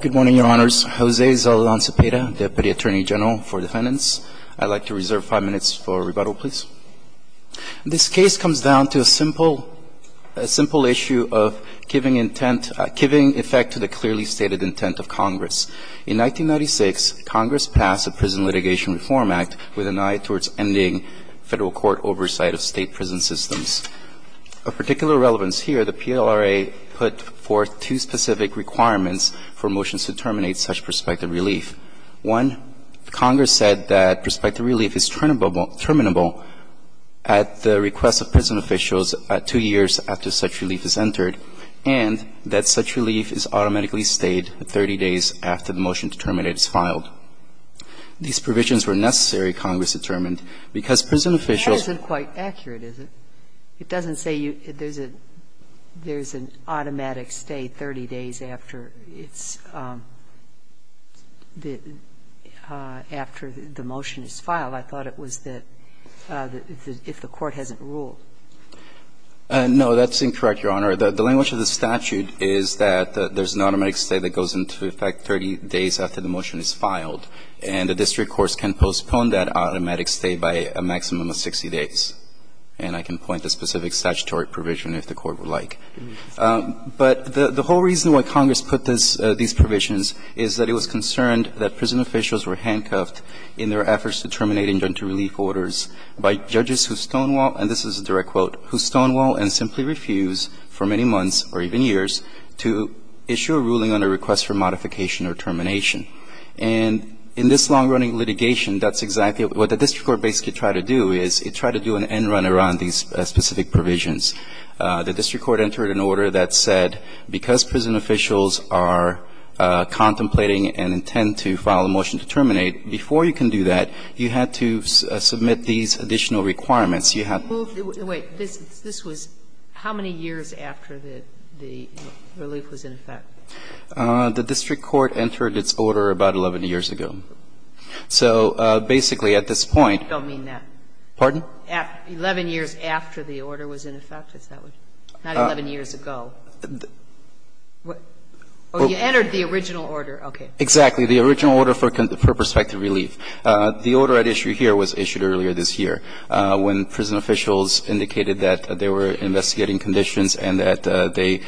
Good morning, Your Honors. Jose Zaldan Zepeda, Deputy Attorney General for Defendants. I'd like to reserve five minutes for rebuttal, please. This case comes down to a simple, a simple issue of giving intent, giving effect to the clearly stated intent of Congress. In 1996, Congress passed the Prison Litigation Reform Act with an eye towards ending federal court oversight of state prison systems. Of particular relevance here, the PLRA put forth two specific requirements for motions to terminate such prospective relief. One, Congress said that prospective relief is terminable at the request of prison officials two years after such relief is entered, and that such relief is automatically stayed 30 days after the motion to terminate is filed. These provisions were necessary, Congress determined, because prison officials But that isn't quite accurate, is it? It doesn't say there's an automatic stay 30 days after it's the – after the motion is filed. I thought it was that if the court hasn't ruled. No, that's incorrect, Your Honor. The language of the statute is that there's an automatic stay that goes into effect 30 days after the motion is filed. And the district courts can postpone that automatic stay by a maximum of 60 days. And I can point to specific statutory provision if the Court would like. But the whole reason why Congress put this – these provisions is that it was concerned that prison officials were handcuffed in their efforts to terminate injunctive relief orders by judges who stonewall – and this is a direct quote – who stonewall and simply refuse for many months, or even years, to issue a ruling on a request for modification or termination. And in this long-running litigation, that's exactly – what the district court basically tried to do is it tried to do an end run around these specific provisions. The district court entered an order that said because prison officials are contemplating and intend to file a motion to terminate, before you can do that, you had to submit these additional requirements. You had to – Wait. This was how many years after the relief was in effect? The district court entered its order about 11 years ago. So basically, at this point – I don't mean that. Pardon? Eleven years after the order was in effect. Not 11 years ago. You entered the original order. Okay. Exactly. The original order for prospective relief. The order at issue here was issued earlier this year when prison officials indicated that they were investigating conditions and that they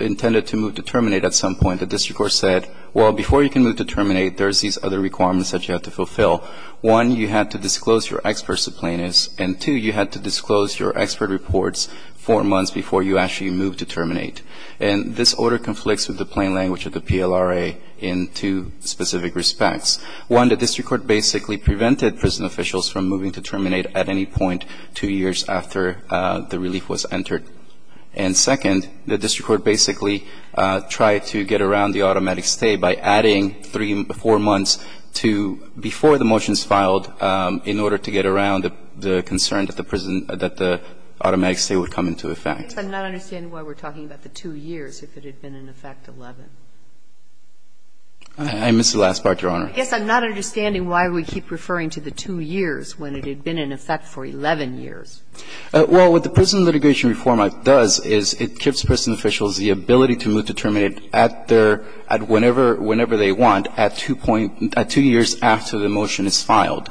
intended to move to terminate at some point. The district court said, well, before you can move to terminate, there's these other requirements that you have to fulfill. One, you had to disclose your expert subpoenas. And two, you had to disclose your expert reports four months before you actually moved to terminate. And this order conflicts with the plain language of the PLRA in two specific respects. One, the district court basically prevented prison officials from moving to terminate at any point two years after the relief was entered. And second, the district court basically tried to get around the automatic stay by adding three, four months to – before the motions filed in order to get around the concern that the prison – that the automatic stay would come into effect. I guess I'm not understanding why we're talking about the two years if it had been in effect 11. I missed the last part, Your Honor. I guess I'm not understanding why we keep referring to the two years when it had been in effect for 11 years. Well, what the prison litigation reform act does is it gives prison officials the ability to move to terminate at their – at whenever – whenever they want at two point – at two years after the motion is filed.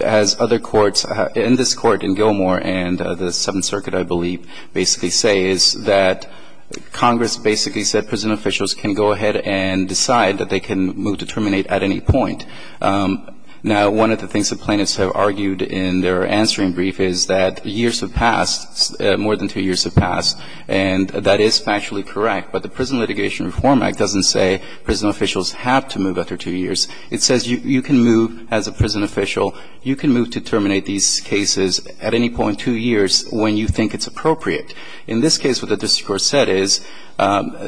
As other courts – in this court in Gilmore and the Seventh Circuit, I believe, basically say is that Congress basically said prison officials can go ahead and decide that they can move to terminate at any point. Now, one of the things the plaintiffs have argued in their answering brief is that years have passed, more than two years have passed. And that is factually correct. But the prison litigation reform act doesn't say prison officials have to move after two years. It says you can move as a prison official, you can move to terminate these cases at any point two years when you think it's appropriate. In this case, what the district court said is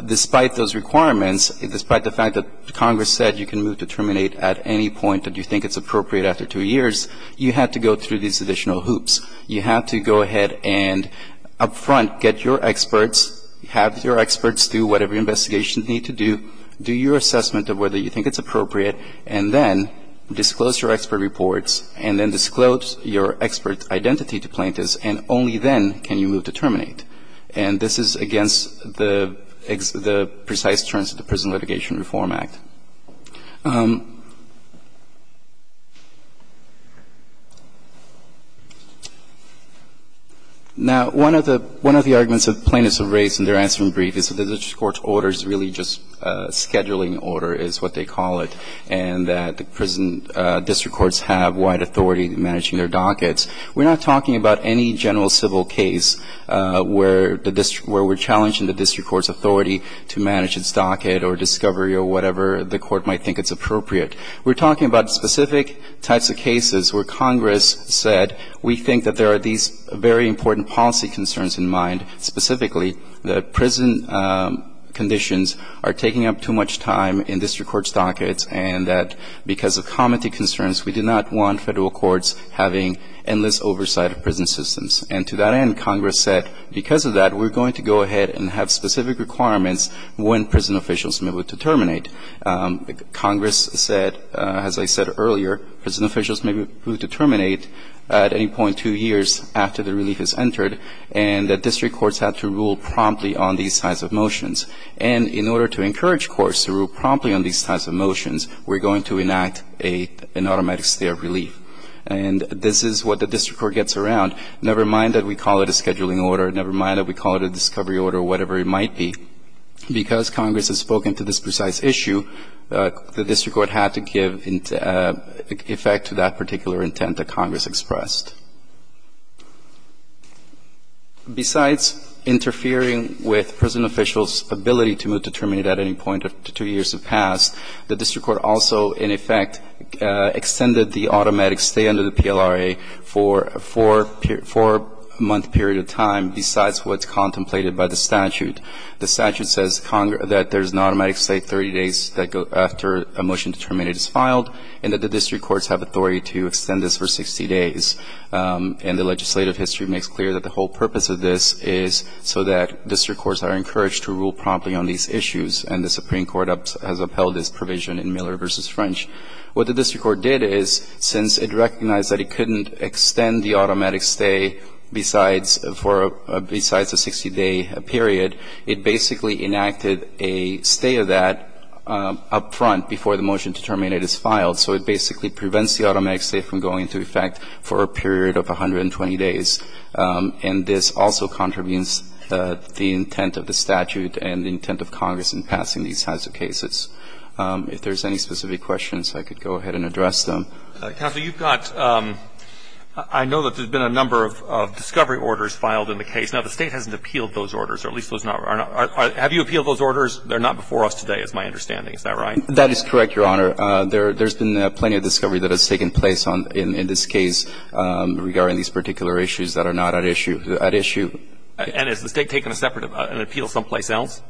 despite those requirements, despite the fact that Congress said you can move to terminate at any point that you think it's appropriate after two years, you have to go through these additional hoops. You have to go ahead and up front get your experts, have your experts do whatever investigations need to do, do your assessment of whether you think it's appropriate, and then disclose your expert reports, and then disclose your expert identity to plaintiffs, and only then can you move to terminate. And this is against the precise terms of the Prison Litigation Reform Act. Now, one of the arguments that plaintiffs have raised in their answering brief is that the district court's order is really just a scheduling order is what they call it, and that the prison district courts have wide authority in managing their dockets. We're not talking about any general civil case where the district – where we're challenging the district court's authority to manage its docket or discovery or whatever the court might think it's appropriate. We're talking about specific types of cases where Congress said we think that there are these very important policy concerns in mind, specifically that prison conditions are taking up too much time in district court's dockets, and that because of comity systems. And to that end, Congress said because of that, we're going to go ahead and have specific requirements when prison officials move to terminate. Congress said, as I said earlier, prison officials may move to terminate at any point two years after the relief is entered, and that district courts have to rule promptly on these types of motions. And in order to encourage courts to rule promptly on these types of motions, we're going to enact an automatic stay of relief. And this is what the district court gets around. Never mind that we call it a scheduling order. Never mind that we call it a discovery order or whatever it might be. Because Congress has spoken to this precise issue, the district court had to give effect to that particular intent that Congress expressed. Besides interfering with prison officials' ability to move to terminate at any point two years have passed, the district court also, in effect, extended the automatic stay under the PLRA for a four-month period of time besides what's contemplated by the statute. The statute says that there's an automatic stay 30 days after a motion to terminate is filed, and that the district courts have authority to extend this for 60 days. And the legislative history makes clear that the whole purpose of this is so that provision in Miller v. French. What the district court did is, since it recognized that it couldn't extend the automatic stay besides for a 60-day period, it basically enacted a stay of that up front before the motion to terminate is filed. So it basically prevents the automatic stay from going into effect for a period of 120 days. And this also contravenes the intent of the statute and the intent of Congress in passing these types of cases. If there's any specific questions, I could go ahead and address them. Counsel, you've got — I know that there's been a number of discovery orders filed in the case. Now, the State hasn't appealed those orders, or at least those are not — have you appealed those orders? They're not before us today, is my understanding. Is that right? That is correct, Your Honor. There's been plenty of discovery that has taken place in this case regarding these particular issues that are not at issue. And has the State taken a separate — an appeal someplace else?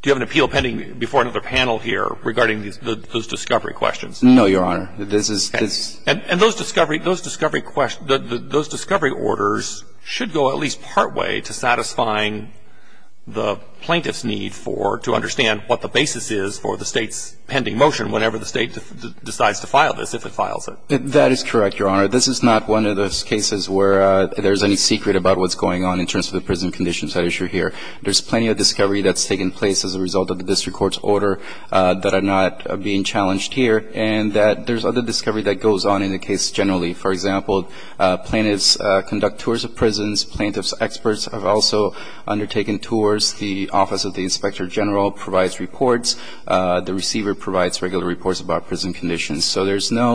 Do you have an appeal pending before another panel here regarding those discovery questions? No, Your Honor. This is — And those discovery — those discovery — those discovery orders should go at least partway to satisfying the plaintiff's need for — to understand what the basis is for the State's pending motion whenever the State decides to file this, if it files it. That is correct, Your Honor. This is not one of those cases where there's any secret about what's going on in terms of the prison conditions at issue here. There's plenty of discovery that's taken place as a result of the district court's order that are not being challenged here, and that there's other discovery that goes on in the case generally. For example, plaintiffs conduct tours of prisons. Plaintiffs' experts have also undertaken tours. The Office of the Inspector General provides reports. The receiver provides regular reports about prison conditions. So there's no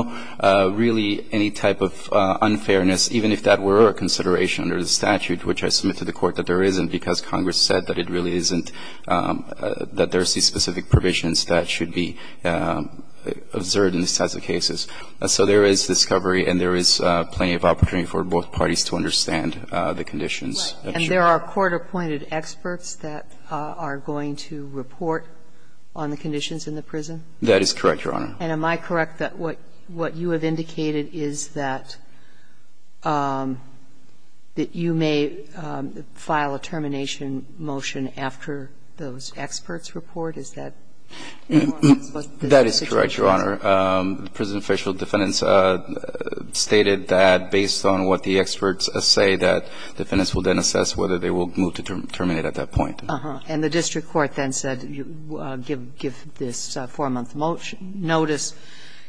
really any type of unfairness, even if that were a consideration under the statute, which I submit to the Court that there isn't because Congress said that it really isn't — that there's these specific provisions that should be observed in these types of cases. So there is discovery and there is plenty of opportunity for both parties to understand the conditions at issue. Right. And there are court-appointed experts that are going to report on the conditions in the prison? That is correct, Your Honor. And am I correct that what you have indicated is that you may file a termination motion after those experts report? Is that correct? That is correct, Your Honor. Prison official defendants stated that based on what the experts say, that defendants will then assess whether they will move to terminate at that point. And the district court then said give this 4-month notice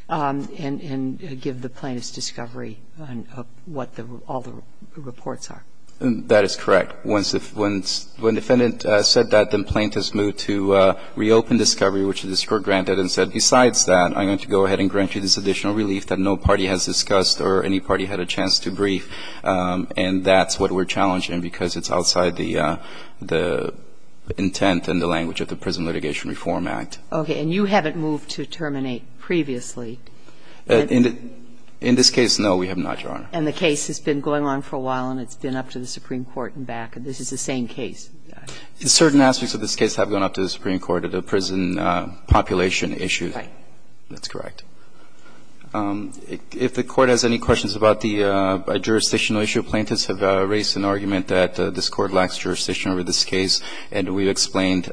and give the plaintiffs discovery on what all the reports are. That is correct. When defendant said that, then plaintiffs moved to reopen discovery, which the district granted and said, besides that, I'm going to go ahead and grant you this additional relief that no party has discussed or any party had a chance to brief, and that's what we're challenging because it's outside the intent and the language of the Prison Litigation Reform Act. Okay. And you haven't moved to terminate previously? In this case, no, we have not, Your Honor. And the case has been going on for a while and it's been up to the Supreme Court and back. This is the same case. Certain aspects of this case have gone up to the Supreme Court at a prison population issue. Right. That's correct. If the Court has any questions about the jurisdictional issue, plaintiffs have raised an argument that this Court lacks jurisdiction over this case, and we've explained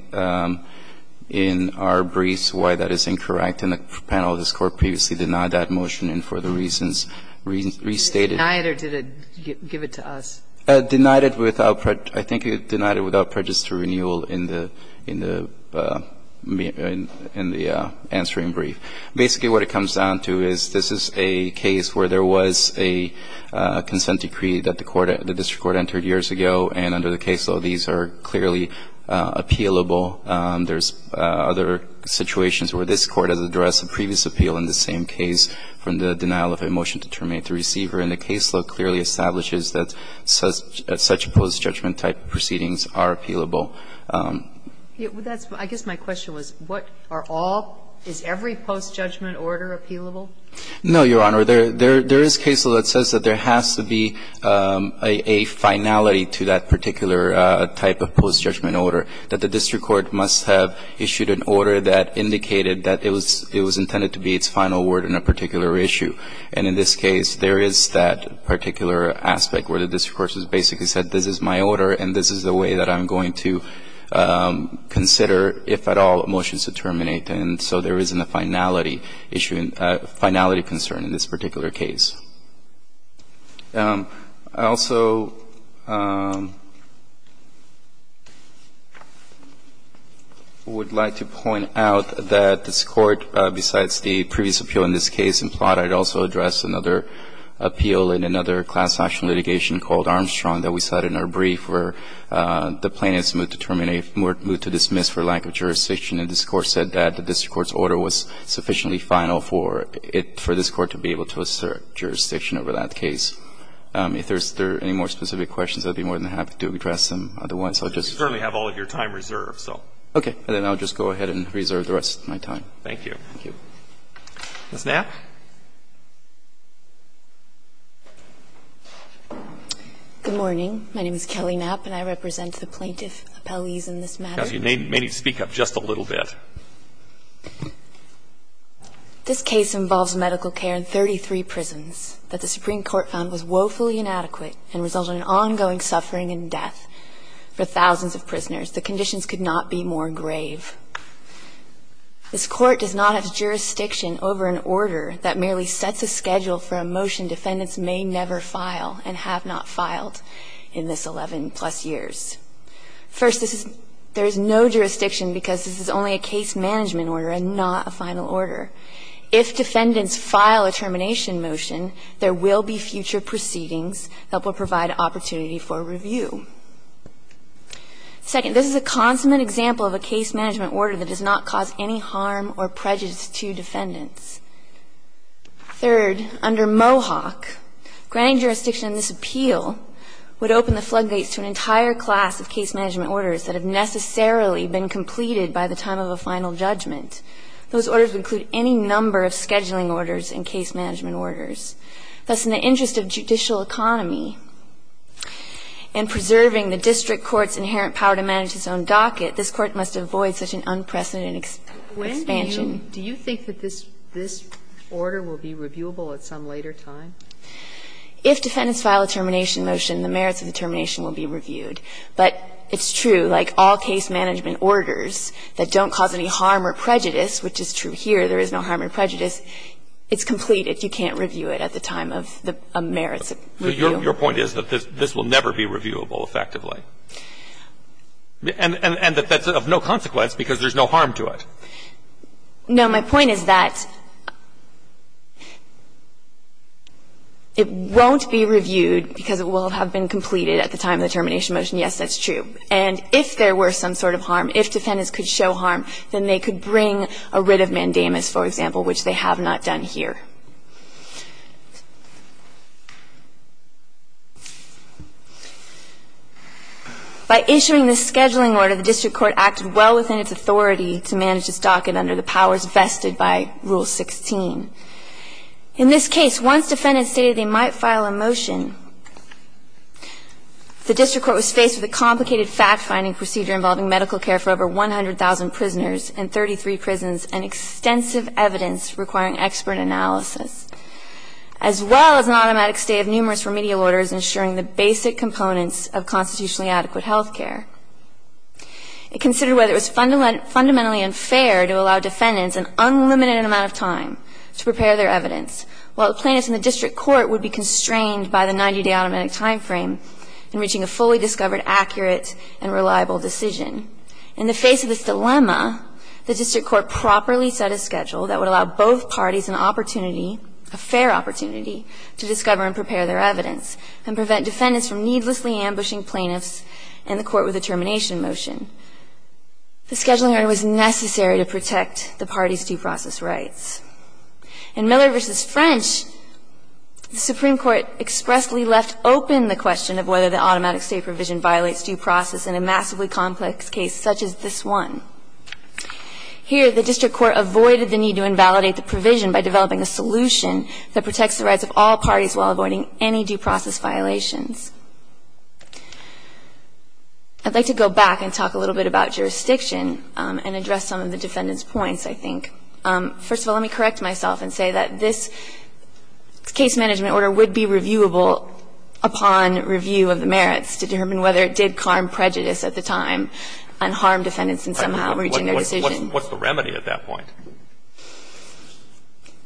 in our briefs why that is incorrect, and the panel of this Court previously denied that motion and for the reasons restated. Denied it or did it give it to us? Denied it without prejudice. I think it denied it without prejudice to renewal in the answer in brief. Basically what it comes down to is this is a case where there was a consent decree that the court, the district court entered years ago, and under the caseload these are clearly appealable. There's other situations where this Court has addressed a previous appeal in the same case from the denial of a motion to terminate the receiver, and the caseload clearly establishes that such post-judgment type proceedings are appealable. I guess my question was what are all, is every post-judgment order appealable? No, Your Honor. There is caseload that says that there has to be a finality to that particular type of post-judgment order, that the district court must have issued an order that indicated that it was intended to be its final word in a particular issue. And in this case, there is that particular aspect where the district court has basically said this is my order and this is the way that I'm going to consider, if at all, motions to terminate, and so there isn't a finality issue, finality concern in this particular case. I also would like to point out that this Court, besides the previous appeal in this case and plot, had also addressed another appeal in another class action litigation called Armstrong that we cited in our brief where the plaintiffs moved to terminate or moved to dismiss for lack of jurisdiction, and this Court said that the district court's order was sufficiently final for it, for this Court to be able to assert jurisdiction over that case. If there's any more specific questions, I'd be more than happy to address them. Otherwise, I'll just go ahead and reserve the rest of my time. Thank you. Ms. Knapp. Good morning. My name is Kelly Knapp, and I represent the plaintiff appellees in this matter. You may need to speak up just a little bit. This case involves medical care in 33 prisons that the Supreme Court found was woefully inadequate and resulted in ongoing suffering and death for thousands of prisoners. The conditions could not be more grave. This Court does not have jurisdiction over an order that merely sets a schedule for a motion defendants may never file and have not filed in this 11-plus years. First, this is – there is no jurisdiction because this is only a case management order and not a final order. If defendants file a termination motion, there will be future proceedings that will provide opportunity for review. Second, this is a consummate example of a case management order that does not cause any harm or prejudice to defendants. Third, under Mohawk, granting jurisdiction in this appeal would open the floodgates to an entire class of case management orders that have necessarily been completed by the time of a final judgment. Those orders would include any number of scheduling orders and case management orders. Thus, in the interest of judicial economy and preserving the district court's inherent power to manage its own docket, this Court must avoid such an unprecedented expansion. Sotomayor, do you think that this order will be reviewable at some later time? If defendants file a termination motion, the merits of the termination will be reviewed. But it's true, like all case management orders that don't cause any harm or prejudice, which is true here, there is no harm or prejudice, it's completed. You can't review it at the time of a merits review. So your point is that this will never be reviewable effectively? And that that's of no consequence because there's no harm to it? No. My point is that it won't be reviewed because it will have been completed at the time of the termination motion. Yes, that's true. And if there were some sort of harm, if defendants could show harm, then they could bring a writ of mandamus, for example, which they have not done here. By issuing this scheduling order, the district court acted well within its authority to manage its docket under the powers vested by Rule 16. In this case, once defendants stated they might file a motion, the district court was faced with a complicated fact-finding procedure involving medical care for over 100,000 prisoners in 33 prisons and extensive evidence requiring expert analysis, as well as an automatic stay of numerous remedial orders ensuring the basic components of constitutionally adequate health care. It considered whether it was fundamentally unfair to allow defendants an unlimited amount of time to prepare their evidence, while plaintiffs in the district court would be constrained by the 90-day automatic time frame in reaching a fully discovered accurate and reliable decision. In the face of this dilemma, the district court properly set a schedule that would allow both parties an opportunity, a fair opportunity, to discover and prepare their evidence and prevent defendants from needlessly ambushing plaintiffs in the court with a termination motion. The scheduling order was necessary to protect the parties' due process rights. In Miller v. French, the Supreme Court expressly left open the question of whether the automatic stay provision violates due process in a massively complex case such as this one. Here, the district court avoided the need to invalidate the provision by developing a solution that protects the rights of all parties while avoiding any due process violations. I'd like to go back and talk a little bit about jurisdiction and address some of the defendant's points, I think. First of all, let me correct myself and say that this case management order would be reviewable upon review of the merits to determine whether it did harm prejudice at the time and harm defendants in somehow reaching their decision. What's the remedy at that point?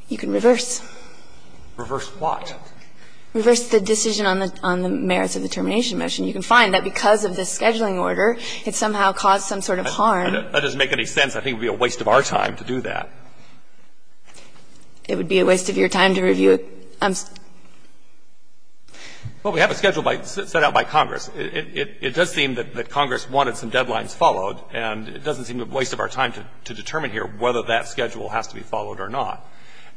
You can reverse. Reverse what? Reverse the decision on the merits of the termination motion. You can find that because of the scheduling order, it somehow caused some sort of harm. That doesn't make any sense. I think it would be a waste of our time to do that. It would be a waste of your time to review it? Well, we have a schedule set out by Congress. It does seem that Congress wanted some deadlines followed, and it doesn't seem a waste of our time to determine here whether that schedule has to be followed or not.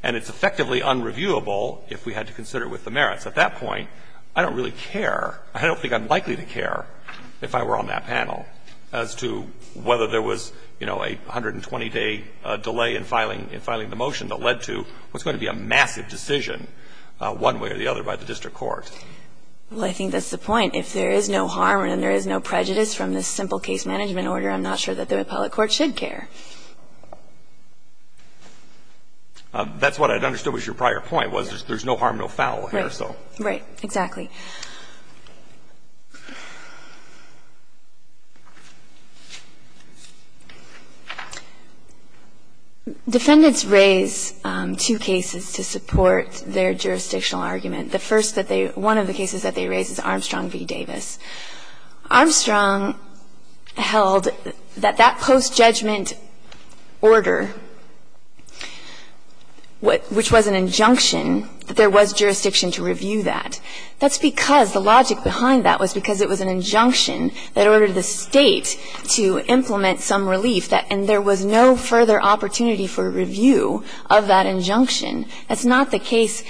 And it's effectively unreviewable if we had to consider it with the merits. At that point, I don't really care. I don't think I'm likely to care if I were on that panel as to whether there was, you know, a 120-day delay in filing the motion that led to what's going to be a massive decision one way or the other by the district court. Well, I think that's the point. If there is no harm and there is no prejudice from this simple case management order, I'm not sure that the appellate court should care. That's what I understood was your prior point, was there's no harm, no foul here. Right. Exactly. Defendants raise two cases to support their jurisdictional argument. The first that they – one of the cases that they raise is Armstrong v. Davis. Armstrong held that that post-judgment order, which was an injunction, that there was jurisdiction to review that. That's because the logic behind that was because it was an injunction that ordered the state to implement some relief, and there was no further opportunity for review of that injunction. That's not the case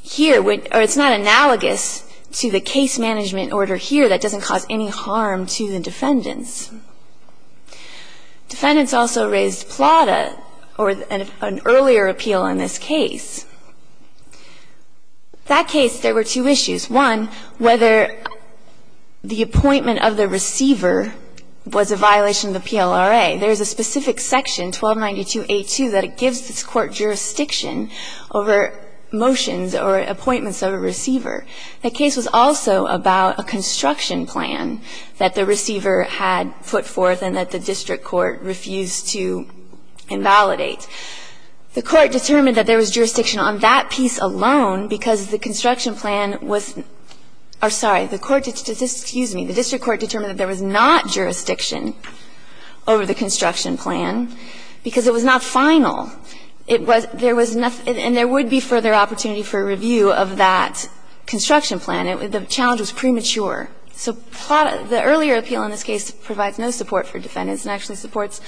here – or it's not analogous to the case management order here that doesn't cause any harm to the defendants. Defendants also raised Plata, or an earlier appeal in this case. That case, there were two issues. One, whether the appointment of the receiver was a violation of the PLRA. There is a specific section, 1292a2, that it gives this court jurisdiction over motions or appointments of a receiver. The case was also about a construction plan that the receiver had put forth and that the district court refused to invalidate. The court determined that there was jurisdiction on that piece alone because the construction plan was – or, sorry, the court – excuse me, the district court determined that there was not jurisdiction over the construction plan because it was not final. It was – there was – and there would be further opportunity for review of that construction plan. The challenge was premature. So Plata – the earlier appeal in this case provides no support for defendants and actually supports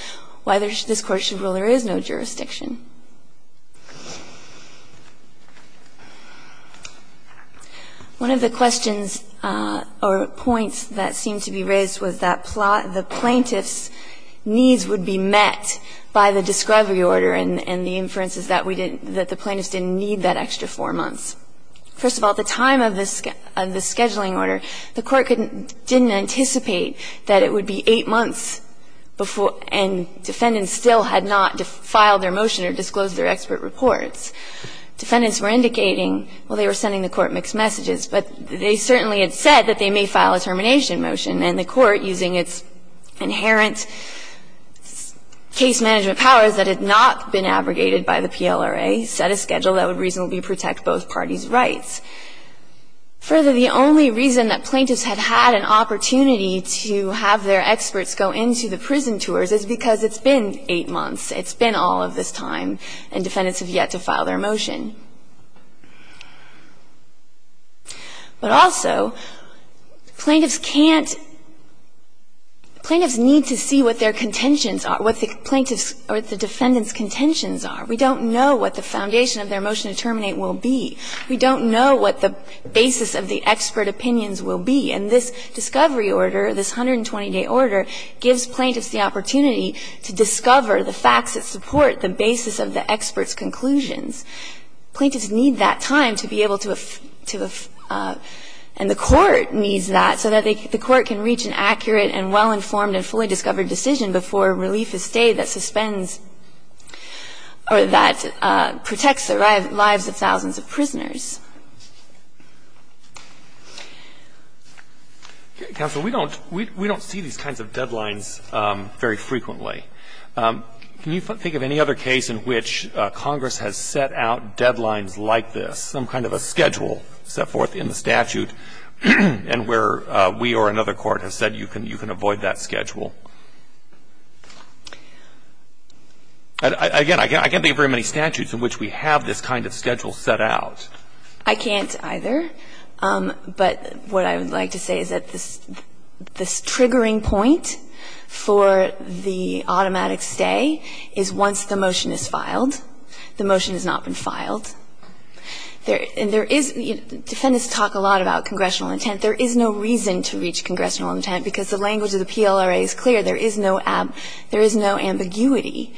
why this court should rule there is no jurisdiction. One of the questions or points that seemed to be raised was that the plaintiff's needs would be met by the discovery order and the inferences that we didn't – that the plaintiffs didn't need that extra four months. First of all, at the time of the scheduling order, the court didn't anticipate that it would be eight months before – and defendants still had not filed their motion or disclosed their expert reports. Defendants were indicating, well, they were sending the court mixed messages, but they certainly had said that they may file a termination motion. And the court, using its inherent case management powers that had not been abrogated by the PLRA, set a schedule that would reasonably protect both parties' rights. Further, the only reason that plaintiffs had had an opportunity to have their experts go into the prison tours is because it's been eight months. It's been all of this time, and defendants have yet to file their motion. But also, plaintiffs can't – plaintiffs need to see what their contentions are, what the plaintiffs' or the defendants' contentions are. We don't know what the foundation of their motion to terminate will be. We don't know what the basis of the expert opinions will be. And this discovery order, this 120-day order, gives plaintiffs the opportunity to discover the facts that support the basis of the experts' conclusions. Plaintiffs need that time to be able to – and the court needs that so that the court can reach an accurate and well-informed and fully discovered decision before relief to stay that suspends or that protects the lives of thousands of prisoners. Breyer. Counsel, we don't – we don't see these kinds of deadlines very frequently. Can you think of any other case in which Congress has set out deadlines like this, some kind of a schedule set forth in the statute, and where we or another court has said you can avoid that schedule? Again, I can't think of very many statutes in which we have this kind of schedule set out. I can't either. But what I would like to say is that this triggering point for the automatic stay is once the motion is filed. The motion has not been filed. And there is – defendants talk a lot about congressional intent. There is no reason to reach congressional intent, because the language of the PLRA is clear. There is no ambiguity.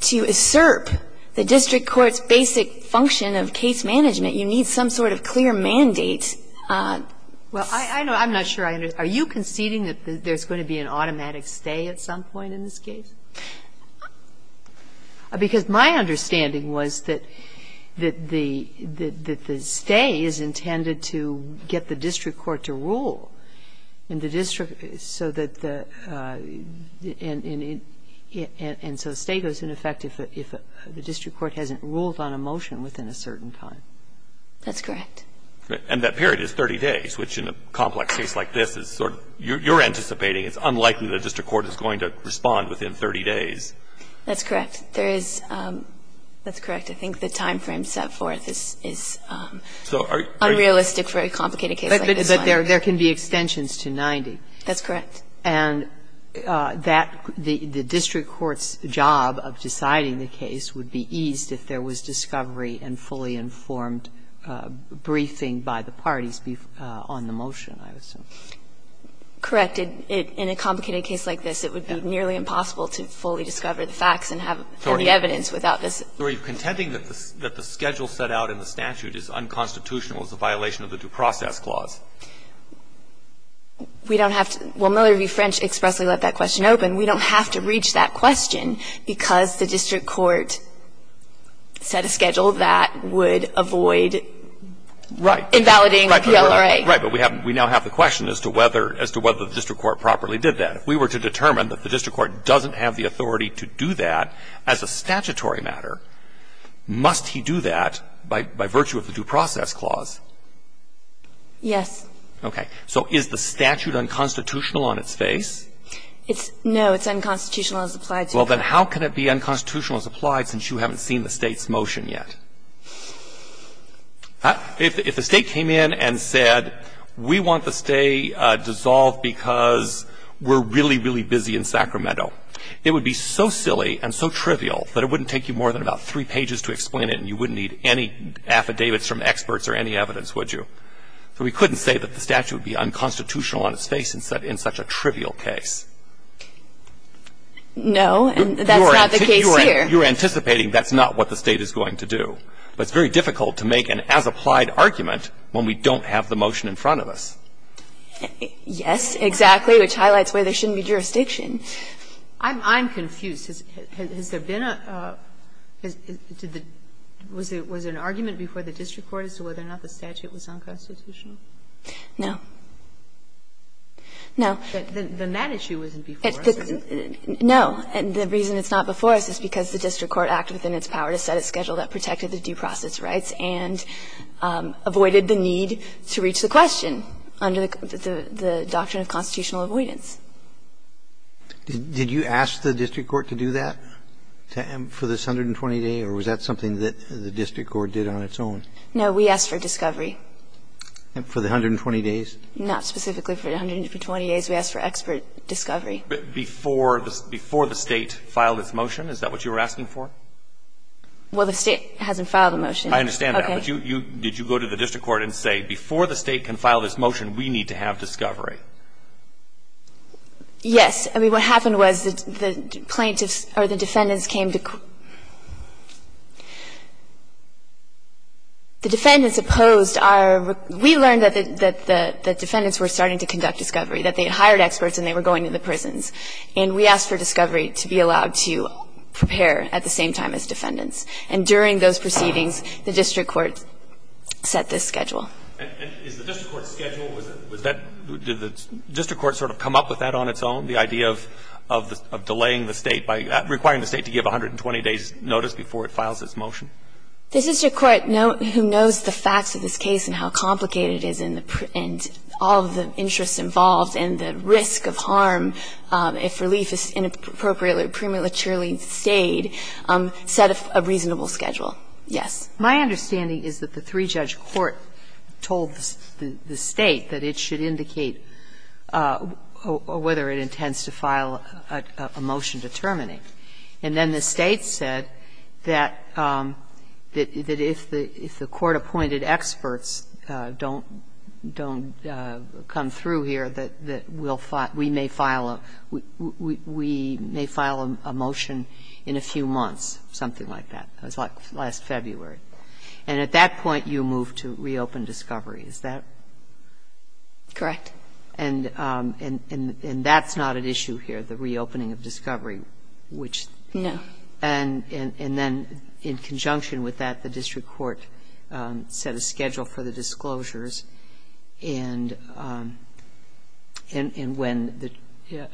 To usurp the district court's basic function of case management, you need some sort of clear mandate. Well, I know – I'm not sure I understand. Are you conceding that there's going to be an automatic stay at some point in this case? Because my understanding was that the stay is intended to get the district court to rule in the district, so that the – and so stay goes into effect if the district court hasn't ruled on a motion within a certain time. That's correct. And that period is 30 days, which in a complex case like this is sort of – you're anticipating it's unlikely the district court is going to respond within 30 days. That's correct. There is – that's correct. I think the timeframe set forth is unrealistic for a complicated case like this one. But there can be extensions to 90. That's correct. And that – the district court's job of deciding the case would be eased if there Correct. In a complicated case like this, it would be nearly impossible to fully discover the facts and have any evidence without this. So are you contending that the schedule set out in the statute is unconstitutional as a violation of the due process clause? We don't have to – well, Miller v. French expressly let that question open. We don't have to reach that question because the district court set a schedule that would avoid invalidating PLRA. Right. But we now have the question as to whether the district court properly did that. If we were to determine that the district court doesn't have the authority to do that as a statutory matter, must he do that by virtue of the due process clause? Yes. Okay. So is the statute unconstitutional on its face? No, it's unconstitutional as applied to the court. Well, then how can it be unconstitutional as applied since you haven't seen the State's motion yet? If the State came in and said, we want the State dissolved because we're really, really busy in Sacramento, it would be so silly and so trivial that it wouldn't take you more than about three pages to explain it and you wouldn't need any affidavits from experts or any evidence, would you? So we couldn't say that the statute would be unconstitutional on its face in such a trivial case. No, and that's not the case here. You're anticipating that's not what the State is going to do. But it's very difficult to make an as-applied argument when we don't have the motion in front of us. Yes, exactly, which highlights why there shouldn't be jurisdiction. I'm confused. Has there been a – was there an argument before the district court as to whether or not the statute was unconstitutional? No. No. Then that issue wasn't before us. No. And the reason it's not before us is because the district court acted within its power to set a schedule that protected the due process rights and avoided the need to reach the question under the doctrine of constitutional avoidance. Did you ask the district court to do that for this 120 days, or was that something that the district court did on its own? No. We asked for discovery. For the 120 days? Not specifically for the 120 days. We asked for expert discovery. Before the State filed its motion? Is that what you were asking for? Well, the State hasn't filed a motion. I understand that. Okay. But you – did you go to the district court and say, before the State can file this motion, we need to have discovery? Yes. I mean, what happened was the plaintiffs or the defendants came to – the defendants opposed our – we learned that the defendants were starting to conduct discovery, that they had hired experts and they were going to the prisons. And we asked for discovery to be allowed to prepare at the same time as defendants. And during those proceedings, the district court set this schedule. And is the district court's schedule – was that – did the district court sort of come up with that on its own, the idea of delaying the State by – requiring the State to give 120 days' notice before it files its motion? The district court, who knows the facts of this case and how complicated it is and all of the interests involved and the risk of harm if relief is inappropriately or prematurely stayed, set a reasonable schedule. Yes. My understanding is that the three-judge court told the State that it should indicate whether it intends to file a motion to terminate. And then the State said that if the court-appointed experts don't come through here, that we'll file – we may file a – we may file a motion in a few months, something like that. It was like last February. And at that point, you moved to reopen discovery. Is that correct? Correct. And that's not at issue here, the reopening of discovery, which – No. And then in conjunction with that, the district court set a schedule for the disclosures and when the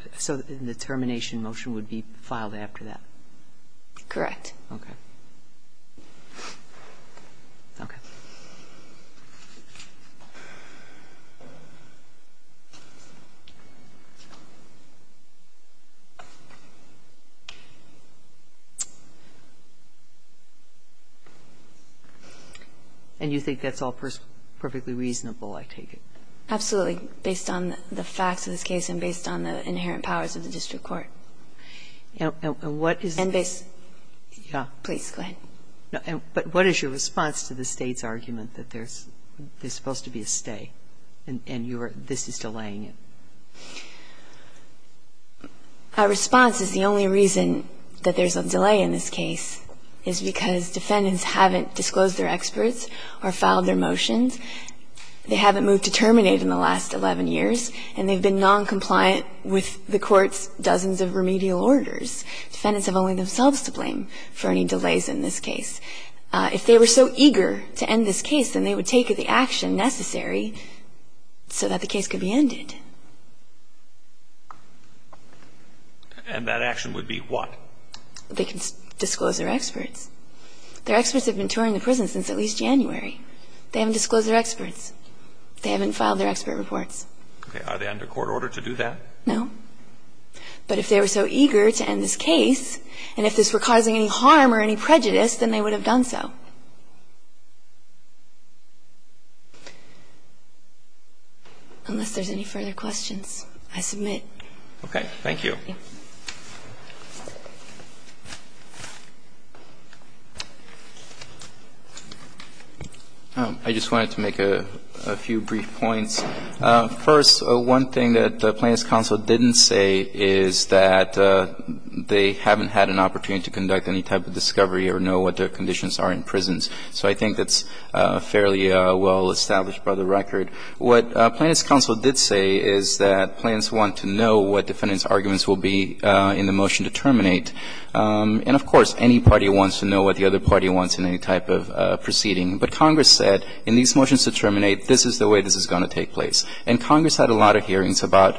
– so the termination motion would be filed after that? Correct. Okay. Okay. And you think that's all perfectly reasonable, I take it? Absolutely, based on the facts of this case and based on the inherent powers of the district court. And what is the – Yeah. Please, go ahead. But what is your response to the State's argument that there's supposed to be a stay and you are – this is delaying it? Our response is the only reason that there's a delay in this case is because defendants haven't disclosed their experts or filed their motions. They haven't moved to terminate in the last 11 years and they've been noncompliant with the court's dozens of remedial orders. Defendants have only themselves to blame for any delays in this case. If they were so eager to end this case, then they would take the action necessary so that the case could be ended. And that action would be what? They can disclose their experts. Their experts have been touring the prison since at least January. They haven't disclosed their experts. They haven't filed their expert reports. Are they under court order to do that? No. But if they were so eager to end this case and if this were causing any harm or any prejudice, then they would have done so. Unless there's any further questions, I submit. Okay. Thank you. Thank you. I just wanted to make a few brief points. First, one thing that Plaintiff's counsel didn't say is that they haven't had an opportunity to conduct any type of discovery or know what their conditions are in prisons. So I think that's fairly well established by the record. What Plaintiff's counsel did say is that Plaintiffs want to know what defendants' arguments will be in the motion to terminate. And of course, any party wants to know what the other party wants in any type of proceeding. But Congress said, in these motions to terminate, this is the way this is going to take place. And Congress had a lot of hearings about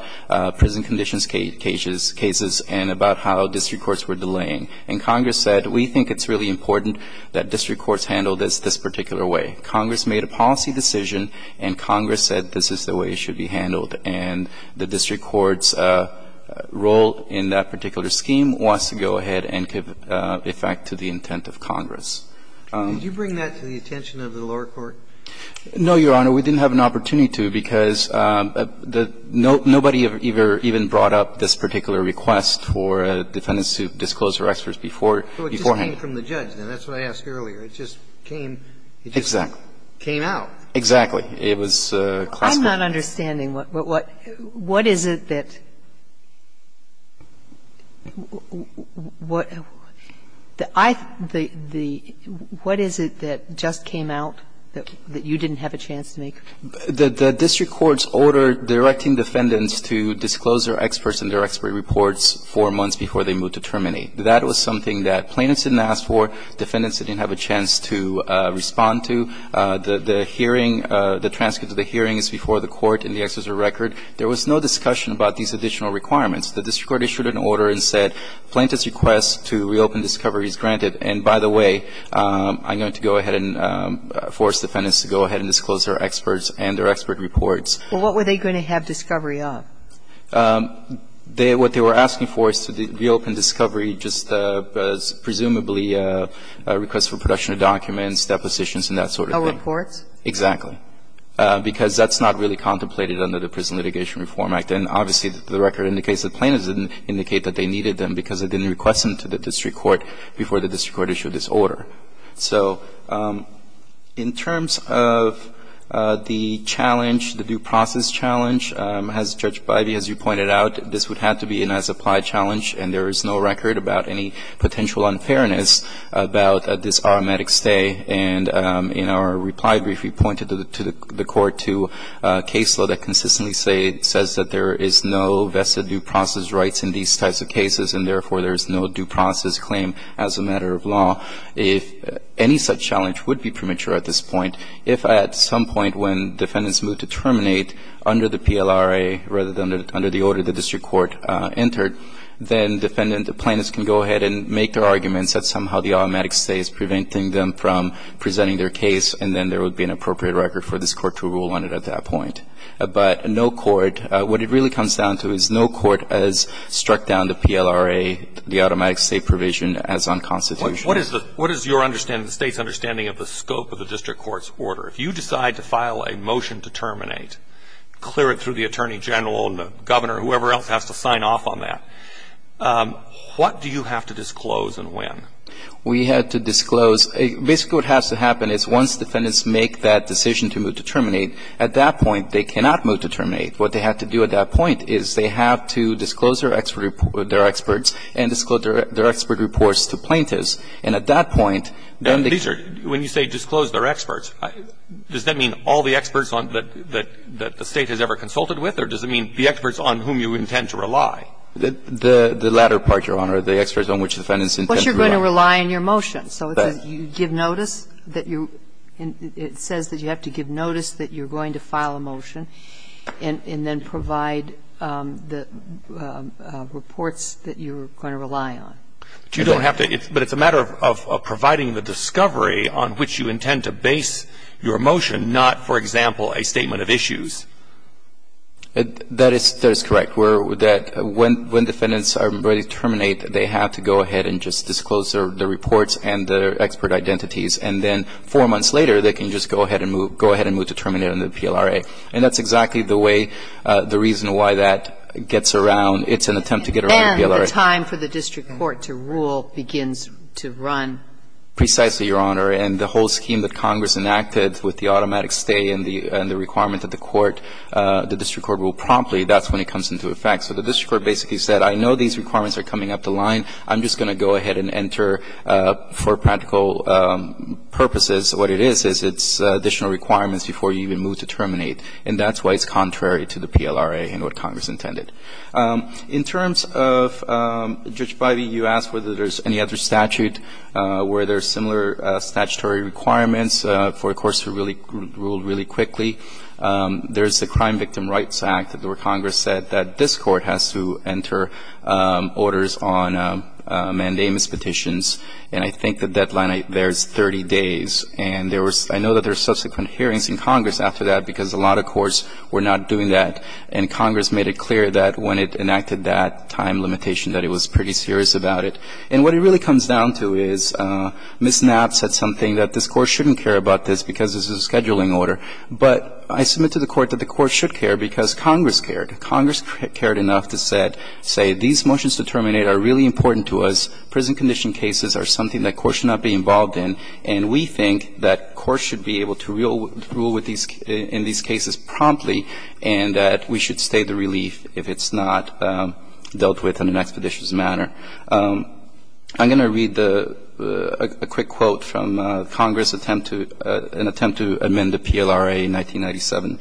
prison conditions cases and about how district courts were delaying. And Congress said, we think it's really important that district courts handle this this particular way. Congress made a policy decision and Congress said this is the way it should be handled. And the district court's role in that particular scheme was to go ahead and give effect to the intent of Congress. Kennedy, did you bring that to the attention of the lower court? No, Your Honor. We didn't have an opportunity to, because nobody ever even brought up this particular request for defendants to disclose their experts beforehand. So it just came from the judge. Now, that's what I asked earlier. It just came. Exactly. It just came out. Exactly. It was classified. I'm not understanding. What is it that just came out that you didn't have a chance to make? The district court's order directing defendants to disclose their experts and their expert reports four months before they moved to terminate. That was something that plaintiffs didn't ask for. Defendants didn't have a chance to respond to. The hearing, the transcript of the hearing is before the court in the excerpt of the record. There was no discussion about these additional requirements. The district court issued an order and said plaintiffs' request to reopen discovery is granted. And by the way, I'm going to go ahead and force defendants to go ahead and disclose their experts and their expert reports. Well, what were they going to have discovery of? What they were asking for is to reopen discovery, just presumably a request for production of documents, depositions and that sort of thing. No reports? Exactly. Because that's not really contemplated under the Prison Litigation Reform Act. And obviously, the record indicates that plaintiffs didn't indicate that they needed them because they didn't request them to the district court before the district court issued this order. So in terms of the challenge, the due process challenge, as Judge Bidey, as you pointed out, this would have to be an as-applied challenge and there is no record about any potential unfairness about this automatic stay. And in our reply brief, we pointed to the court to a case law that consistently says that there is no vested due process rights in these types of cases and therefore there is no due process claim as a matter of law. If any such challenge would be premature at this point, if at some point when defendants move to terminate under the PLRA rather than under the order the district court entered, then defendant, the plaintiffs can go ahead and make their arguments that somehow the automatic stay is preventing them from presenting their case and then there would be an appropriate record for this court to rule on it at that point. But no court, what it really comes down to is no court has struck down the PLRA, the automatic stay provision as unconstitutional. What is your understanding, the State's understanding of the scope of the district court's order? If you decide to file a motion to terminate, clear it through the Attorney General and the Governor, whoever else has to sign off on that, what do you have to disclose and when? We have to disclose. Basically what has to happen is once defendants make that decision to move to terminate, at that point they cannot move to terminate. What they have to do at that point is they have to disclose their experts and disclose their expert reports to plaintiffs. And at that point, then they can't move to terminate. When you say disclose their experts, does that mean all the experts that the State has ever consulted with or does it mean the experts on whom you intend to rely? The latter part, Your Honor, the experts on which defendants intend to rely. But you're going to rely on your motion. So you give notice that you're – it says that you have to give notice that you're going to file a motion and then provide the reports that you're going to rely on. But you don't have to. But it's a matter of providing the discovery on which you intend to base your motion, not, for example, a statement of issues. That is correct. When defendants are ready to terminate, they have to go ahead and just disclose their reports and their expert identities. And then four months later, they can just go ahead and move to terminate under PLRA. And that's exactly the way, the reason why that gets around. It's an attempt to get around the PLRA. And the time for the district court to rule begins to run. Precisely, Your Honor. And the whole scheme that Congress enacted with the automatic stay and the requirement that the court, the district court rule promptly, that's when it comes into effect. So the district court basically said, I know these requirements are coming up the line. I'm just going to go ahead and enter for practical purposes. What it is, is it's additional requirements before you even move to terminate. And that's why it's contrary to the PLRA and what Congress intended. In terms of, Judge Bidey, you asked whether there's any other statute where there are similar statutory requirements for a court to rule really quickly. There's the Crime Victim Rights Act where Congress said that this court has to enter orders on mandamus petitions. And I think the deadline there is 30 days. And I know that there's subsequent hearings in Congress after that because a lot of courts were not doing that. And Congress made it clear that when it enacted that time limitation that it was pretty serious about it. And what it really comes down to is Ms. Knapp said something that this Court shouldn't care about this because this is a scheduling order. But I submit to the Court that the Court should care because Congress cared. Congress cared enough to say, these motions to terminate are really important to us. Prison condition cases are something that courts should not be involved in. And we think that courts should be able to rule in these cases promptly and that we should stay the relief if it's not dealt with in an expeditious manner. I'm going to read a quick quote from Congress attempt to amend the PLRA in 1997.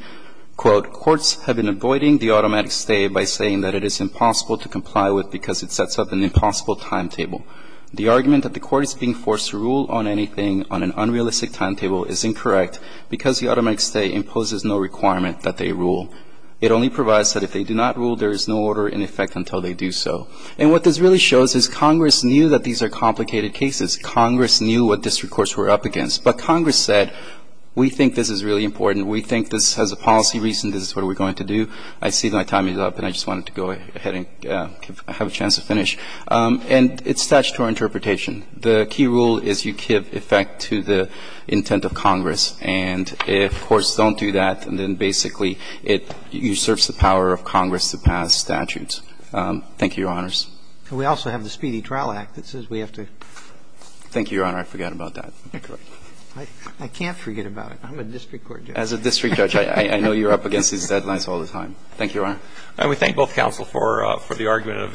Quote, courts have been avoiding the automatic stay by saying that it is impossible to comply with because it sets up an impossible timetable. The argument that the court is being forced to rule on anything on an unrealistic timetable is incorrect because the automatic stay imposes no requirement that they rule. It only provides that if they do not rule, there is no order in effect until they do so. And what this really shows is Congress knew that these are complicated cases. Congress knew what district courts were up against. But Congress said, we think this is really important. We think this has a policy reason. This is what we're going to do. I see my time is up and I just wanted to go ahead and have a chance to finish. And it's statutory interpretation. The key rule is you give effect to the intent of Congress. And if courts don't do that, then basically it usurps the power of Congress to pass statutes. Thank you, Your Honors. And we also have the Speedy Trial Act that says we have to. Thank you, Your Honor. I forgot about that. I can't forget about it. I'm a district court judge. As a district judge, I know you're up against these deadlines all the time. Thank you, Your Honor. And we thank both counsel for the argument, a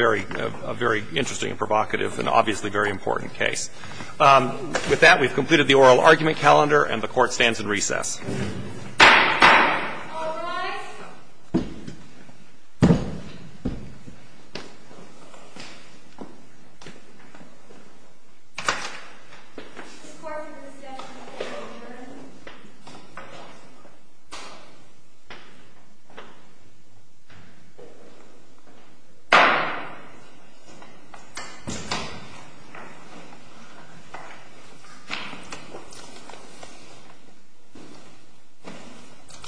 very interesting and provocative and obviously very important case. With that, we've completed the oral argument calendar and the Court stands in recess. All rise. This court is in recess until the next hearing. Thank you.